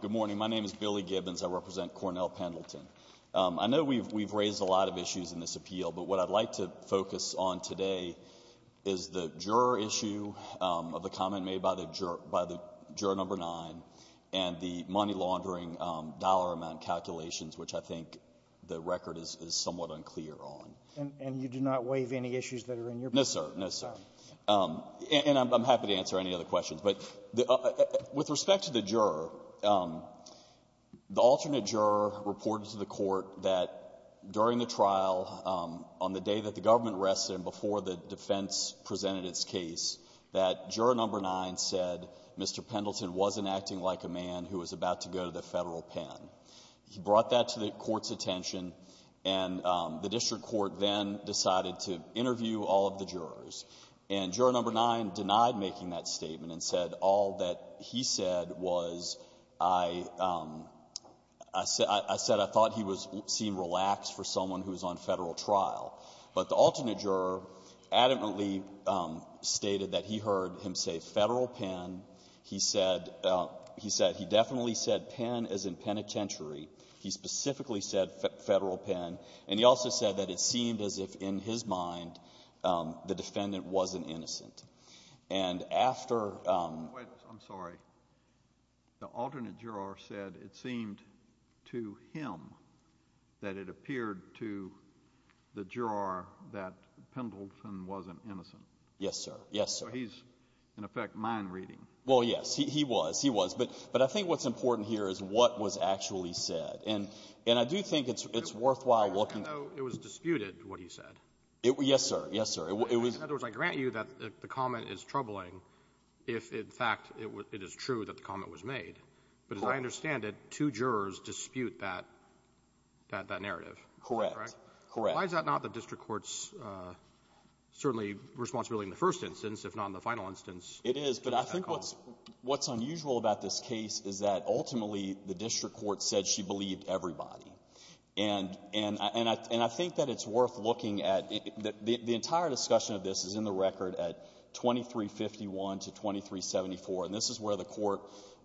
Good morning. My name is Billy Gibbons. I represent Cornell Pendleton. I know we've raised a lot of issues in this appeal, but what I'd like to focus on today is the juror issue of the comment made by the juror number nine and the money laundering dollar amount calculations, which I think the record is somewhat unclear on. And you do not waive any issues that are in your bill? No, sir. No, sir. And I'm happy to answer any other questions. But with respect to the juror, the alternate juror reported to the Court that during the trial, on the day that the government rested and before the defense presented its case, that juror number nine said Mr. Pendleton wasn't acting like a man who was about to go to the Federal pen. He brought that to the Court's attention, and the district court then decided to interview all of the jurors. And juror number nine denied making that statement and said all that he said was I said I thought he seemed relaxed for someone who was on Federal trial. But the alternate juror adamantly stated that he heard him say Federal pen. He said he definitely said pen as in penitentiary. He specifically said Federal pen. And he also said that it seemed as if in his mind the defendant wasn't innocent. And after — Wait. I'm sorry. The alternate juror said it seemed to him that it appeared to the juror that Pendleton wasn't innocent. Yes, sir. Yes, sir. So he's, in effect, mind reading. Well, yes. He was. He was. But I think what's important here is what was actually said. And I do think it's worthwhile looking — So it was disputed, what he said? Yes, sir. Yes, sir. It was — In other words, I grant you that the comment is troubling if, in fact, it is true that the comment was made. But as I understand it, two jurors dispute that narrative. Correct. Why is that not the district court's, certainly, responsibility in the first instance, if not in the final instance? It is. But I think what's unusual about this case is that ultimately the district court said she believed everybody. And I think that it's worth looking at. The entire discussion of this is in the record at 2351 to 2374. And this is where the court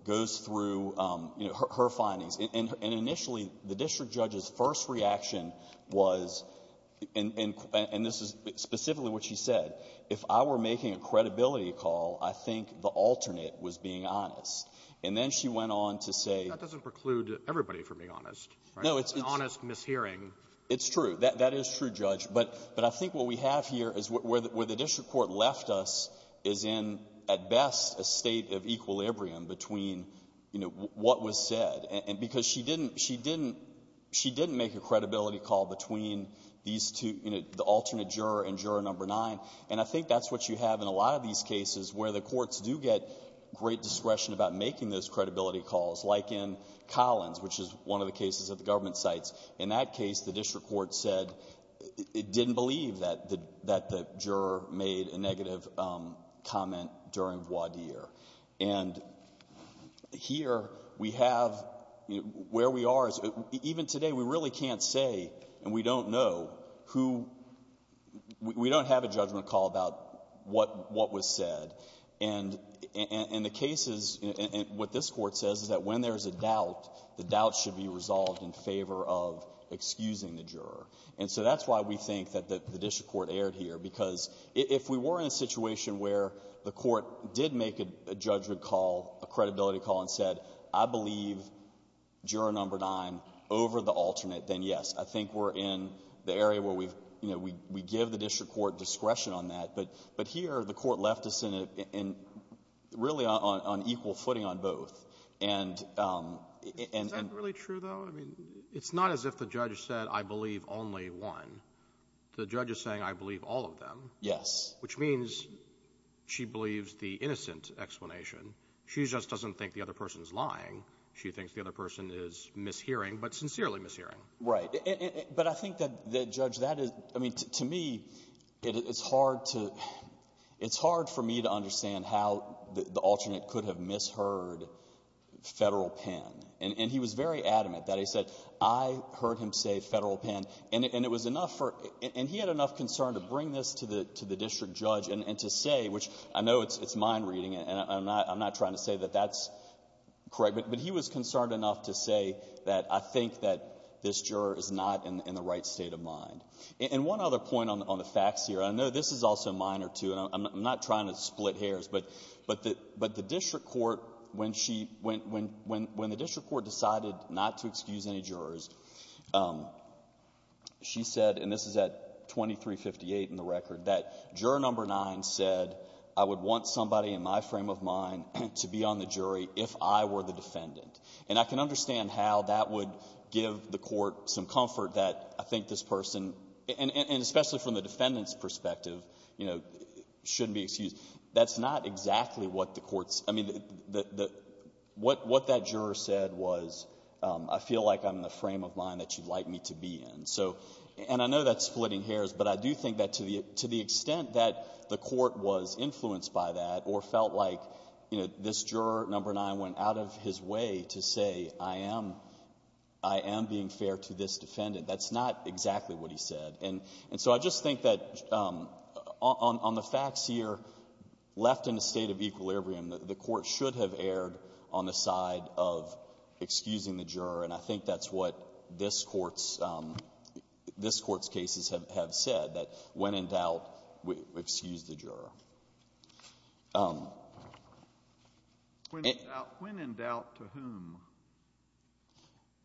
goes through, you know, her findings. And initially, the district judge's first reaction was — and this is specifically what she said — if I were making a credibility call, I think the alternate was being honest. And then she went on to say — Everybody, for being honest. No, it's — An honest mishearing. It's true. That is true, Judge. But I think what we have here is where the district court left us is in, at best, a state of equilibrium between, you know, what was said. And because she didn't — she didn't — she didn't make a credibility call between these two — you know, the alternate juror and juror number nine. And I think that's what you have in a lot of these cases where the courts do get great discretion about making those credibility calls, like in Collins, which is one of the cases that the government cites. In that case, the district court said it didn't believe that the — that the juror made a negative comment during voir dire. And here we have — where we are is — even today, we really can't say, and we don't know, who — we don't have a judgment call about what — what was said. And the case is — what this court says is that when there's a doubt, the doubt should be resolved in favor of excusing the juror. And so that's why we think that the district court erred here. Because if we were in a situation where the court did make a judgment call, a credibility call, and said, I believe juror number nine over the alternate, then, yes, I think we're in the area where we've — you know, we give the district court discretion on that. But here, the court left us in a — really on equal footing on both. And — Is that really true, though? I mean, it's not as if the judge said, I believe only one. The judge is saying, I believe all of them. Yes. Which means she believes the innocent explanation. She just doesn't think the other person's lying. She thinks the other person is mishearing, but sincerely mishearing. Right. But I think that, Judge, that is — I mean, to me, it's hard to — it's hard for me to understand how the alternate could have misheard Federal Pen. And he was very adamant that he said, I heard him say Federal Pen. And it was enough for — and he had enough concern to bring this to the district judge and to say, which I know it's mine reading, and I'm not trying to say that that's correct. But he was concerned enough to say that I think that this juror is not in the right state of mind. And one other point on the facts here. I know this is also minor, too, and I'm not trying to split hairs. But the district court, when she — when the district court decided not to excuse any jurors, she said — and this is at 2358 in the record — that juror No. 9 said, I would want somebody in my frame of mind to be on the jury if I were the defendant. And I can understand how that would give the Court some comfort that I think this person — and especially from the defendant's perspective, you know, shouldn't be excused. That's not exactly what the Court's — I mean, the — what that juror said was, I feel like I'm in the frame of mind that you'd like me to be in. So — and I know that's splitting hairs, but I do think that to the — to the extent that the Court was influenced by that or felt like, you know, this juror No. 9 went out of his way to say, I am — I am being fair to this defendant, that's not exactly what he said. And so I just think that on the facts here, left in a state of equilibrium, the Court should have erred on the side of excusing the juror. And I think that's what this Court's — this Court's cases have said, that when in doubt, excuse the juror. When in doubt, when in doubt to whom?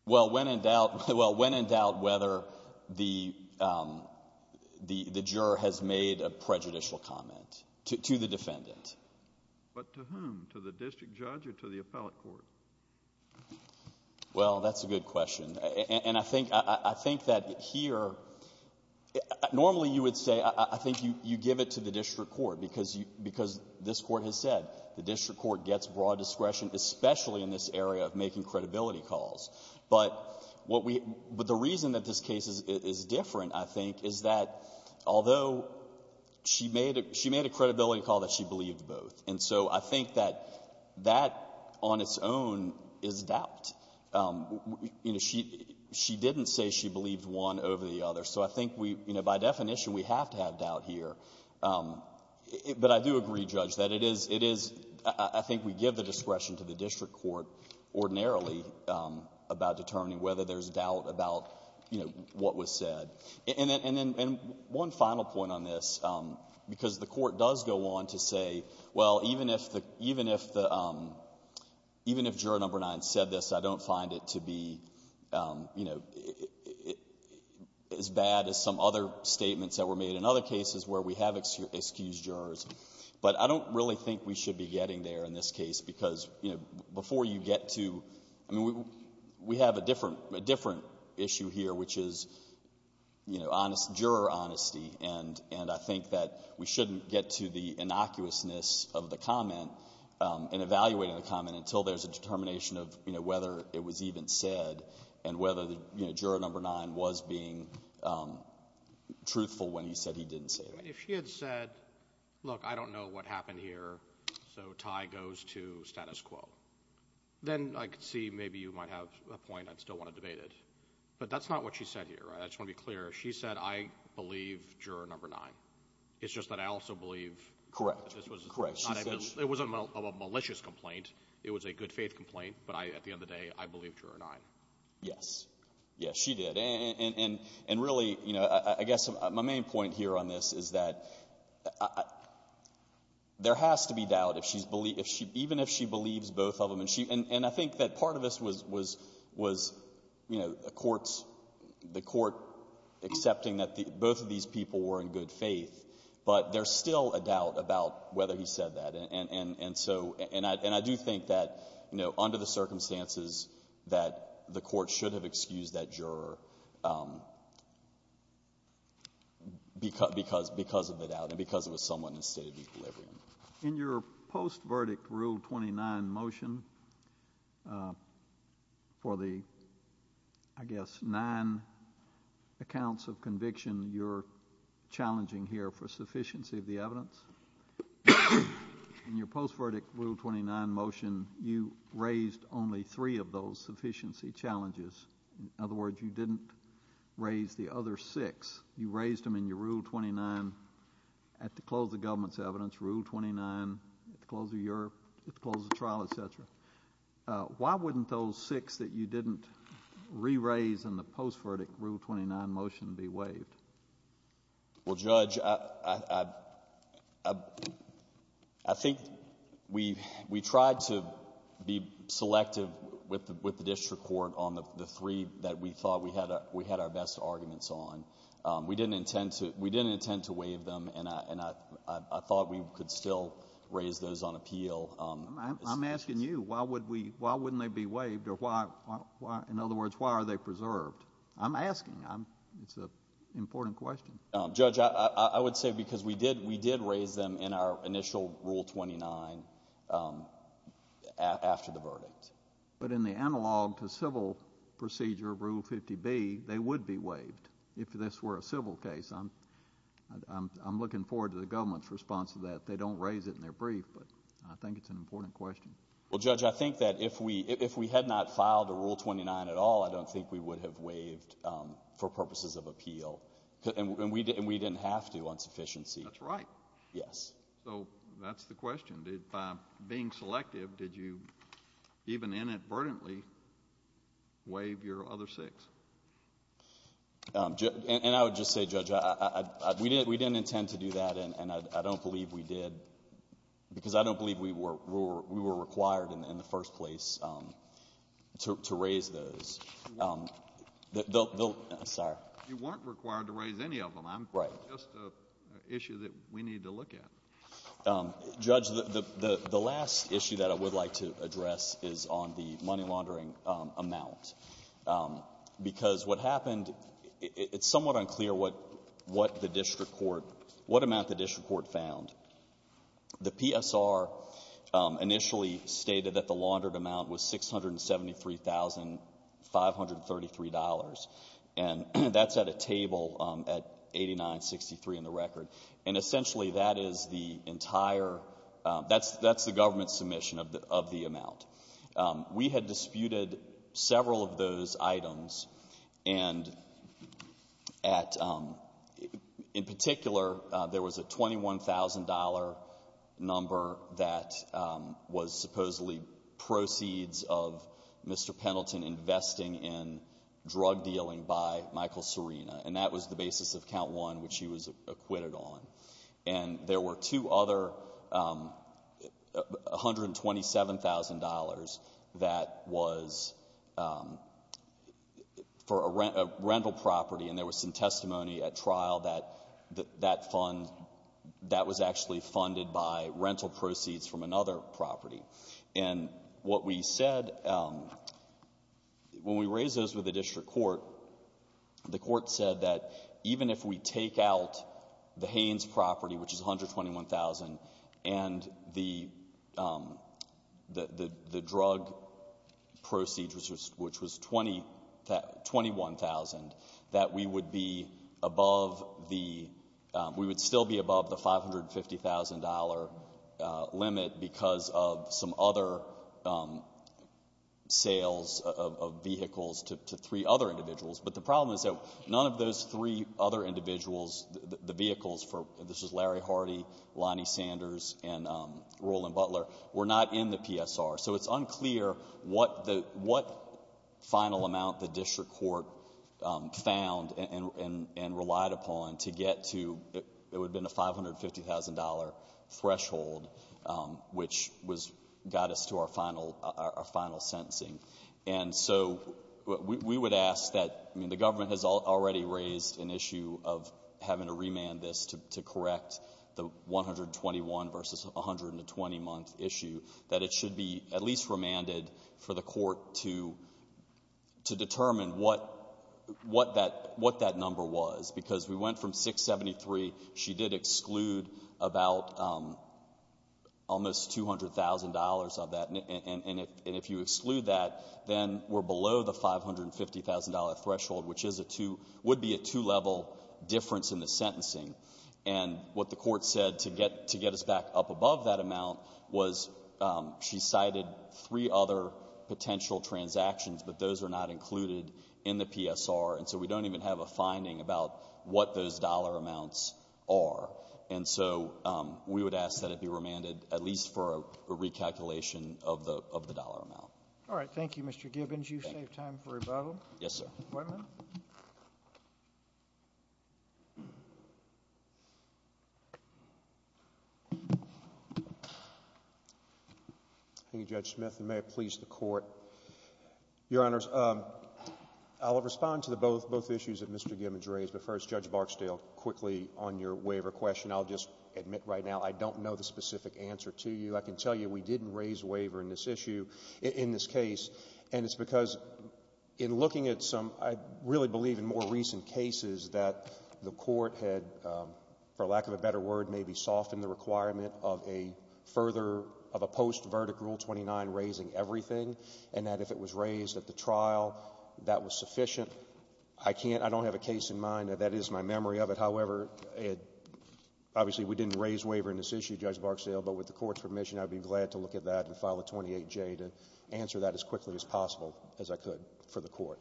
Well, when in doubt — well, when in doubt whether the — the juror has made a prejudicial comment to the defendant. But to whom? To the district judge or to the appellate court? Well, that's a good question. And I think — I think that here — normally you would say — I think you — you give it to the district court because you — because this Court has said the district court gets broad discretion, especially in this area of making credibility calls. But what we — but the reason that this case is — is different, I think, is that although she made a — she made a credibility call that she believed both. And so I think that that on its own is doubt. You know, she — she didn't say she believed one over the other. So I think we — you know, by definition, we have to have doubt here. But I do agree, Judge, that it is — it is — I think we give the discretion to the district court ordinarily about determining whether there's doubt about, you know, what was said. And then — and then one final point on this, because the Court does go on to say, well, even if the — even if the — even if Juror No. 9 said this, I don't find it to be, you know, as bad as some other statements that were made in other cases where we have excused jurors. But I don't really think we should be getting there in this case because, you know, before you get to — I mean, we have a different — a different issue here, which is, you know, honest — juror honesty. And — and I think that we shouldn't get to the innocuousness of the comment and evaluating the comment until there's a determination of, you know, whether it was even said and whether, you know, Juror No. 9 was being truthful when he said he didn't say it. I mean, if she had said, look, I don't know what happened here, so tie goes to status quo, then I could see maybe you might have a point I'd still want to debate it. But that's not what she said here, right? I just want to be clear. She said, I believe Juror No. 9. It's just that I also believe — Correct. Correct. It was a malicious complaint. It was a good-faith complaint. But at the end of the day, I believe Juror No. 9. Yes. Yes, she did. And really, you know, I guess my main point here on this is that there has to be doubt if she's — even if she believes both of them. And I think that part of this was, you know, the court accepting that both of these people were in good faith, but there's still a doubt about whether he said that. And so — and I do think that, you know, under the circumstances that the court should have excused that juror because of the doubt and because it was someone in the State of Equilibrium. In your post-verdict Rule 29 motion, for the, I guess, nine accounts of conviction you're challenging here for sufficiency of the evidence, in your post-verdict Rule 29 motion, you raised only three of those sufficiency challenges. In other words, you didn't raise the other six. You raised them in your Rule 29 — at the close of government's evidence, Rule 29, at the close of Europe, at the close of trial, et cetera. Why wouldn't those six that you didn't re-raise in the post-verdict Rule 29 motion be waived? Well, Judge, I think we tried to be selective with the district court on the three that we thought we had our best arguments on. We didn't intend to waive them, and I thought we could still raise those on appeal. I'm asking you, why wouldn't they be waived? In other words, why are they preserved? I'm asking. It's an important question. Judge, I would say because we did raise them in our initial Rule 29 after the verdict. But in the analog to civil procedure of Rule 50B, they would be waived if this were a civil case. I'm looking forward to the government's response to that. They don't raise it in their brief, but I think it's an important question. Well, Judge, I think that if we had not filed a Rule 29 at all, I don't think we would have waived for purposes of appeal. And we didn't have to on sufficiency. That's right. Yes. So that's the question. By being selective, did you even inadvertently waive your other six? And I would just say, Judge, we didn't intend to do that, and I don't believe we did because I don't believe we were required in the first place to raise those. You weren't required to raise any of them. Right. It's just an issue that we need to look at. Judge, the last issue that I would like to address is on the money laundering amount. Because what happened, it's somewhat unclear what the district court, what amount the district court found. The PSR initially stated that the laundered amount was $673,533. And that's at a table at 8963 in the record. And essentially that is the entire — that's the government's submission of the amount. We had disputed several of those items. And in particular, there was a $21,000 number that was supposedly proceeds of Mr. Pendleton investing in drug dealing by Michael Serena. And that was the basis of count one, which he was acquitted on. And there were two other $127,000 that was for a rental property. And there was some testimony at trial that that fund, that was actually funded by rental proceeds from another property. And what we said, when we raised those with the district court, the court said that even if we take out the Haynes property, which is $121,000, and the drug proceeds, which was $21,000, that we would be above the — some other sales of vehicles to three other individuals. But the problem is that none of those three other individuals, the vehicles for — this is Larry Hardy, Lonnie Sanders, and Roland Butler — were not in the PSR. So it's unclear what the — what final amount the district court found and relied upon to get to — it would have been a $550,000 threshold, which was — got us to our final sentencing. And so we would ask that — I mean, the government has already raised an issue of having to remand this to correct the 121 versus 120-month issue, that it should be at least remanded for the court to determine what that — what that number was. Because we went from 673. She did exclude about almost $200,000 of that. And if you exclude that, then we're below the $550,000 threshold, which is a two — would be a two-level difference in the sentencing. And what the court said to get us back up above that amount was she cited three other potential transactions, but those are not included in the PSR. And so we don't even have a finding about what those dollar amounts are. And so we would ask that it be remanded at least for a recalculation of the — of the dollar amount. All right. Thank you, Mr. Gibbons. You've saved time for rebuttal. Yes, sir. Wait a minute. Thank you, Judge Smith. And may it please the Court. Your Honors, I'll respond to the both — both issues that Mr. Gibbons raised. But first, Judge Barksdale, quickly on your waiver question, I'll just admit right now I don't know the specific answer to you. I can tell you we didn't raise waiver in this issue — in this case. And it's because in looking at some — I really believe in more recent cases that the court had, for lack of a better word, maybe softened the requirement of a further — of a post-verdict Rule 29 raising everything. And that if it was raised at the trial, that was sufficient. I can't — I don't have a case in mind that that is my memory of it. However, it — obviously, we didn't raise waiver in this issue, Judge Barksdale. But with the court's permission, I'd be glad to look at that and file a 28J to answer that as quickly as possible as I could for the court.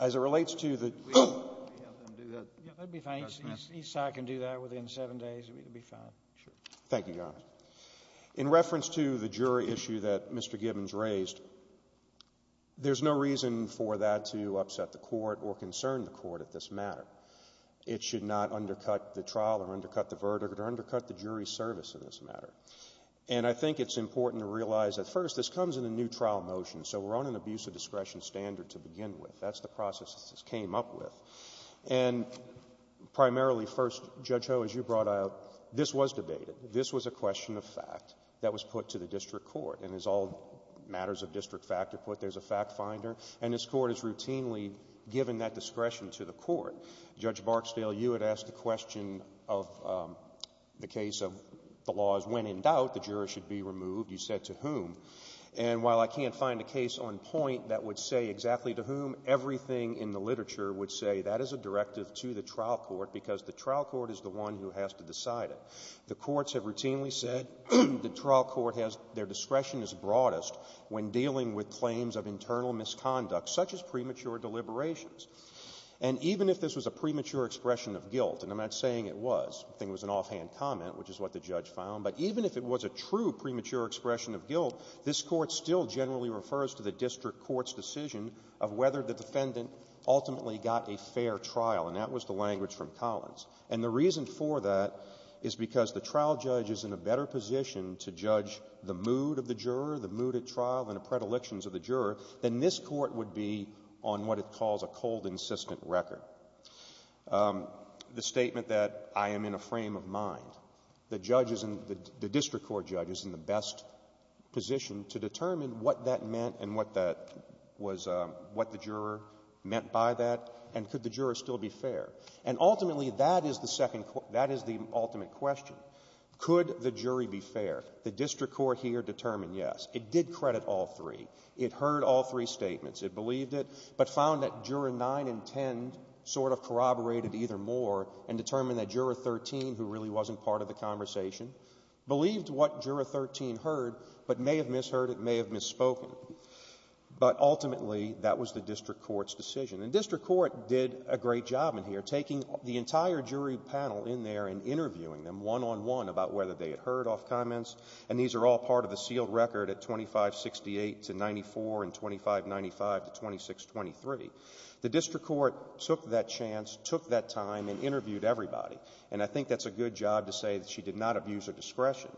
As it relates to the — We have them do that. Yeah, that would be fine. Each side can do that within seven days. It would be fine. Sure. Thank you, Your Honors. In reference to the jury issue that Mr. Gibbons raised, there's no reason for that to upset the court or concern the court at this matter. It should not undercut the trial or undercut the verdict or undercut the jury service in this matter. And I think it's important to realize that, first, this comes in a new trial motion, so we're on an abuse of discretion standard to begin with. That's the process this came up with. And primarily, first, Judge Ho, as you brought out, this was debated. This was a question of fact that was put to the district court. And as all matters of district fact are put, there's a fact finder. And this court is routinely given that discretion to the court. Judge Barksdale, you had asked a question of the case of the laws when, in doubt, the jurors should be removed. You said to whom. And while I can't find a case on point that would say exactly to whom, everything in the literature would say that is a directive to the trial court because the trial court is the one who has to decide it. The courts have routinely said the trial court has their discretion as broadest when dealing with claims of internal misconduct, such as premature deliberations. And even if this was a premature expression of guilt, and I'm not saying it was. I think it was an offhand comment, which is what the judge found. But even if it was a true premature expression of guilt, this court still generally refers to the district court's decision of whether the defendant ultimately got a fair trial. And that was the language from Collins. And the reason for that is because the trial judge is in a better position to judge the mood of the juror, the mood at trial, and the predilections of the juror, than this court would be on what it calls a cold, insistent record. The statement that I am in a frame of mind, the judge is in the — the district court judge is in the best position to determine what that meant and what that was — what the juror meant by that, and could the juror still be fair. And ultimately, that is the second — that is the ultimate question. Could the jury be fair? The district court here determined yes. It did credit all three. It heard all three statements. It believed it, but found that juror 9 and 10 sort of corroborated either more and determined that juror 13, who really wasn't part of the conversation, believed what juror 13 heard, but may have misheard it, may have misspoken. But ultimately, that was the district court's decision. And district court did a great job in here, taking the entire jury panel in there and interviewing them one-on-one about whether they had heard off comments. And these are all part of a sealed record at 2568 to 94 and 2595 to 2623. The district court took that chance, took that time, and interviewed everybody. And I think that's a good job to say that she did not abuse her discretion.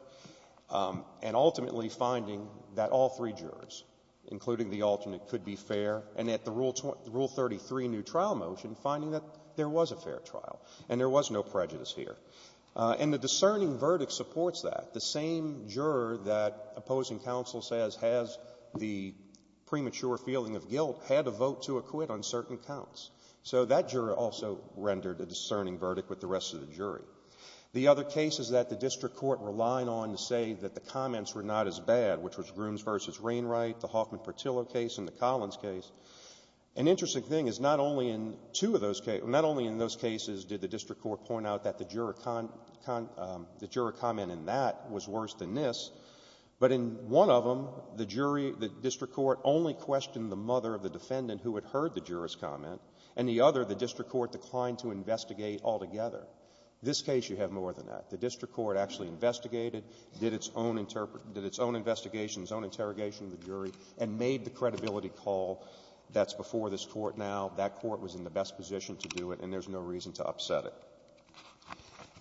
And ultimately finding that all three jurors, including the alternate, could be fair. And at the Rule 33 new trial motion, finding that there was a fair trial and there was no prejudice here. And the discerning verdict supports that. The same juror that opposing counsel says has the premature feeling of guilt had a vote to acquit on certain counts. So that juror also rendered a discerning verdict with the rest of the jury. The other case is that the district court relied on to say that the comments were not as bad, which was Grooms v. Rainwright, the Hoffman-Pertillo case, and the Collins case. An interesting thing is not only in two of those cases, not only in those cases did the district court point out that the juror comment in that was worse than this, but in one of them, the jury, the district court only questioned the mother of the defendant who had heard the juror's comment. And the other, the district court declined to investigate altogether. This case, you have more than that. The district court actually investigated, did its own investigation, its own interrogation of the jury, and made the credibility call that's before this Court now. That Court was in the best position to do it, and there's no reason to upset it.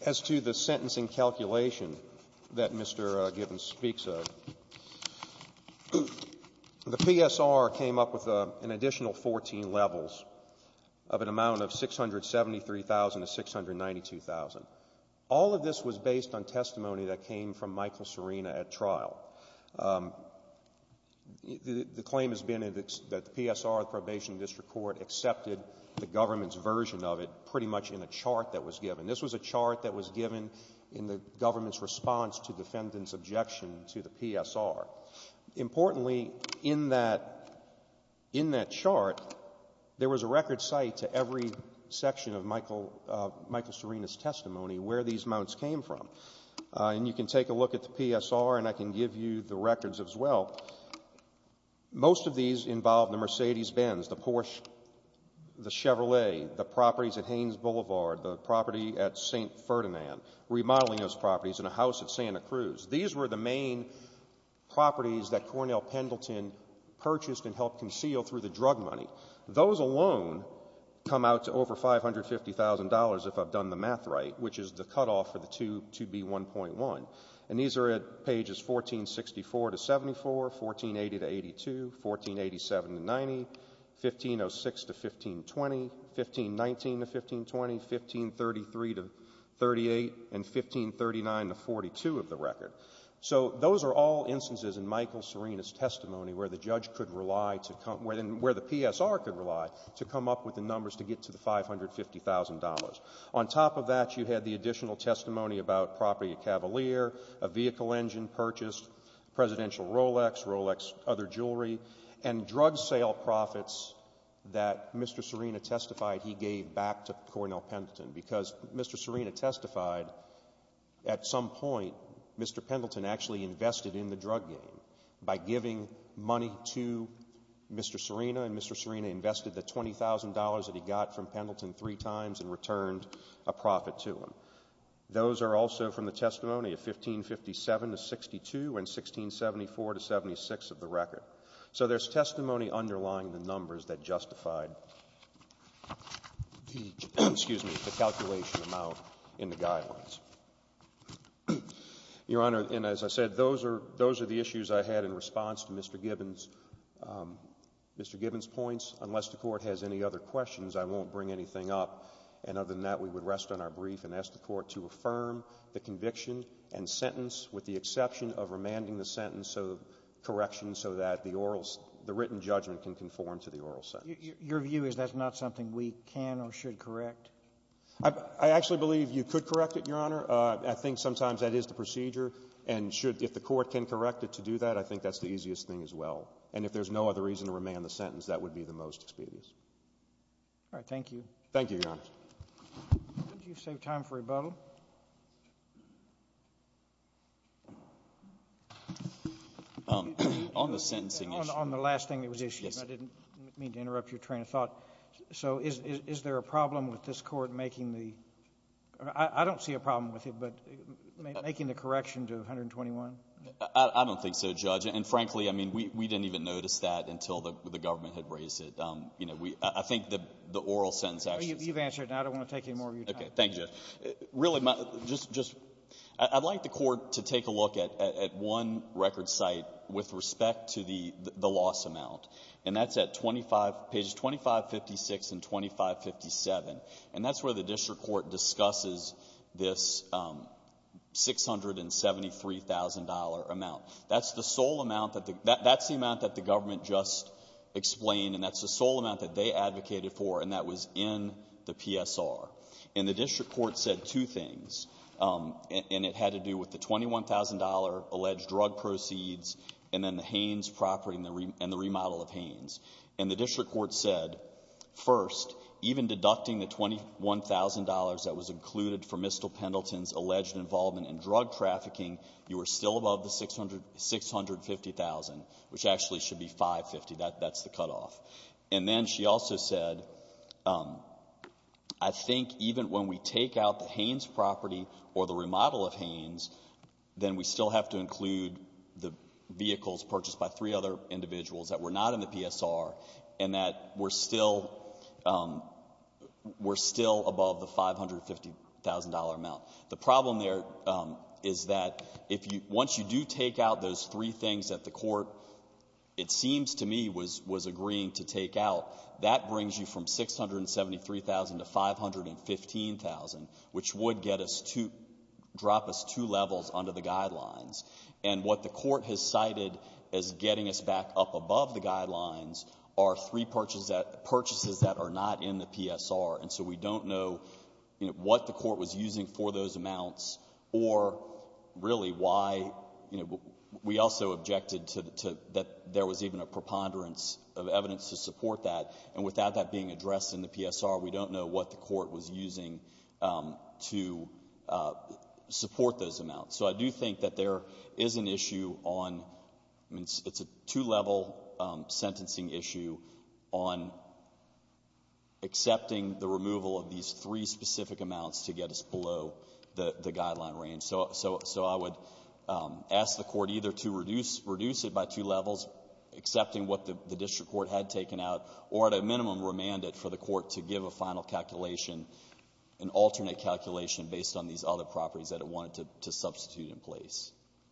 As to the sentencing calculation that Mr. Gibbons speaks of, the PSR came up with an additional 14 levels of an amount of $673,690. All of this was based on testimony that came from Michael Serena at trial. The claim has been that the PSR, the probation district court, accepted the government's version of it pretty much in a chart that was given. This was a chart that was given in the government's response to defendant's objection to the PSR. Importantly, in that chart, there was a record site to every section of Michael Serena's testimony where these amounts came from. And you can take a look at the PSR, and I can give you the records as well. Most of these involved the Mercedes-Benz, the Porsche, the Chevrolet, the properties at Haines Boulevard, the property at St. Ferdinand, remodeling those properties, and a house at Santa Cruz. These were the main properties that Cornell Pendleton purchased and helped conceal through the drug money. Those alone come out to over $550,000, if I've done the math right, which is the cutoff for the 2B1.1. And these are at pages 1464 to 74, 1480 to 82, 1487 to 90, 1506 to 1520, 1519 to 1520, 1533 to 38, and 1539 to 42 of the record. So those are all instances in Michael Serena's testimony where the judge could rely to come — where the PSR could rely to come up with the numbers to get to the $550,000. On top of that, you had the additional testimony about property at Cavalier, a vehicle engine purchased, presidential Rolex, Rolex, other jewelry, and drug sale profits that Mr. Serena testified he gave back to Cornell Pendleton, because Mr. Serena testified at some point Mr. Pendleton actually invested in the drug game by giving money to Mr. Serena, and Mr. Serena invested the $20,000 that he got from Pendleton three times and returned a profit to him. Those are also from the testimony of 1557 to 62 and 1674 to 76 of the record. So there's testimony underlying the numbers that justified the calculation amount in the guidelines. Your Honor, and as I said, those are the issues I had in response to Mr. Gibbons' points. Unless the Court has any other questions, I won't bring anything up. And other than that, we would rest on our brief and ask the Court to affirm the conviction and sentence, with the exception of remanding the sentence of correction so that the written judgment can conform to the oral sentence. Your view is that's not something we can or should correct? I actually believe you could correct it, Your Honor. I think sometimes that is the procedure. And if the Court can correct it to do that, I think that's the easiest thing as well. And if there's no other reason to remand the sentence, that would be the most expedient. All right. Thank you. Thank you, Your Honor. Did you save time for rebuttal? On the sentencing issue. On the last thing that was issued. Yes. I didn't mean to interrupt your train of thought. So is there a problem with this Court making the — I don't see a problem with it, but making the correction to 121? I don't think so, Judge. And, frankly, I mean, we didn't even notice that until the government had raised it. You know, we — I think the oral sentence — You've answered, and I don't want to take any more of your time. Okay. Thank you. Really, just — I'd like the Court to take a look at one record site with respect to the loss amount. And that's at 25 — pages 2556 and 2557. And that's where the district court discusses this $673,000 amount. That's the sole amount that the — that's the amount that the government just explained, and that's the sole amount that they advocated for, and that was in the PSR. And the district court said two things, and it had to do with the $21,000 alleged drug proceeds and then the Haynes property and the remodel of Haynes. And the district court said, first, even deducting the $21,000 that was included for Mistel Pendleton's alleged involvement in drug trafficking, you were still above the $650,000, which actually should be $550,000. That's the cutoff. And then she also said, I think even when we take out the Haynes property or the remodel of Haynes, then we still have to include the vehicles purchased by three other individuals that were not in the PSR and that were still — were still above the $550,000 amount. The problem there is that if you — once you do take out those three things that the court, it seems to me, was agreeing to take out, that brings you from $673,000 to $515,000, which would get us to — drop us two levels under the guidelines. And what the court has cited as getting us back up above the guidelines are three purchases that are not in the PSR. And so we don't know, you know, what the court was using for those amounts or really why, you know. We also objected to — that there was even a preponderance of evidence to support that. And without that being addressed in the PSR, we don't know what the court was using to support those amounts. So I do think that there is an issue on — it's a two-level sentencing issue on accepting the removal of these three specific amounts to get us below the guideline range. So I would ask the court either to reduce it by two levels, accepting what the district court had taken out, or at a minimum remand it for the court to give a final calculation, an alternate calculation based on these other properties that it wanted to substitute in place.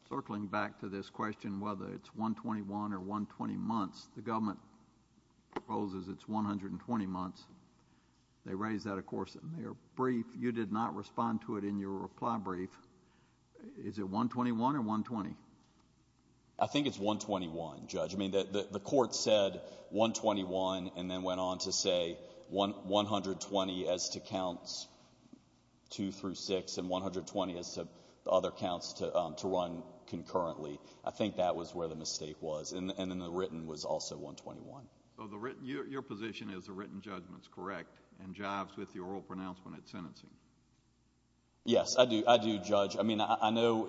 Circling back to this question, whether it's 121 or 120 months, the government proposes it's 120 months. They raise that, of course, in their brief. You did not respond to it in your reply brief. Is it 121 or 120? I think it's 121, Judge. I mean, the court said 121 and then went on to say 120 as to counts two through six and 120 as to other counts to run concurrently. I think that was where the mistake was. And then the written was also 121. So your position is the written judgment is correct and jives with the oral pronouncement at sentencing? Yes, I do, Judge. I mean, I know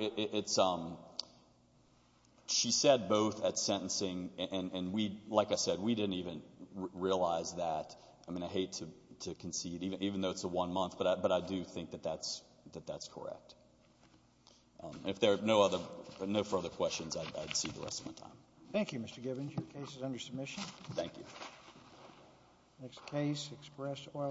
she said both at sentencing, and like I said, we didn't even realize that. I mean, I hate to concede, even though it's a one month, but I do think that that's correct. If there are no further questions, I'd cede the rest of my time. Thank you, Mr. Gibbons. Your case is under submission. Thank you. Next case, express oral.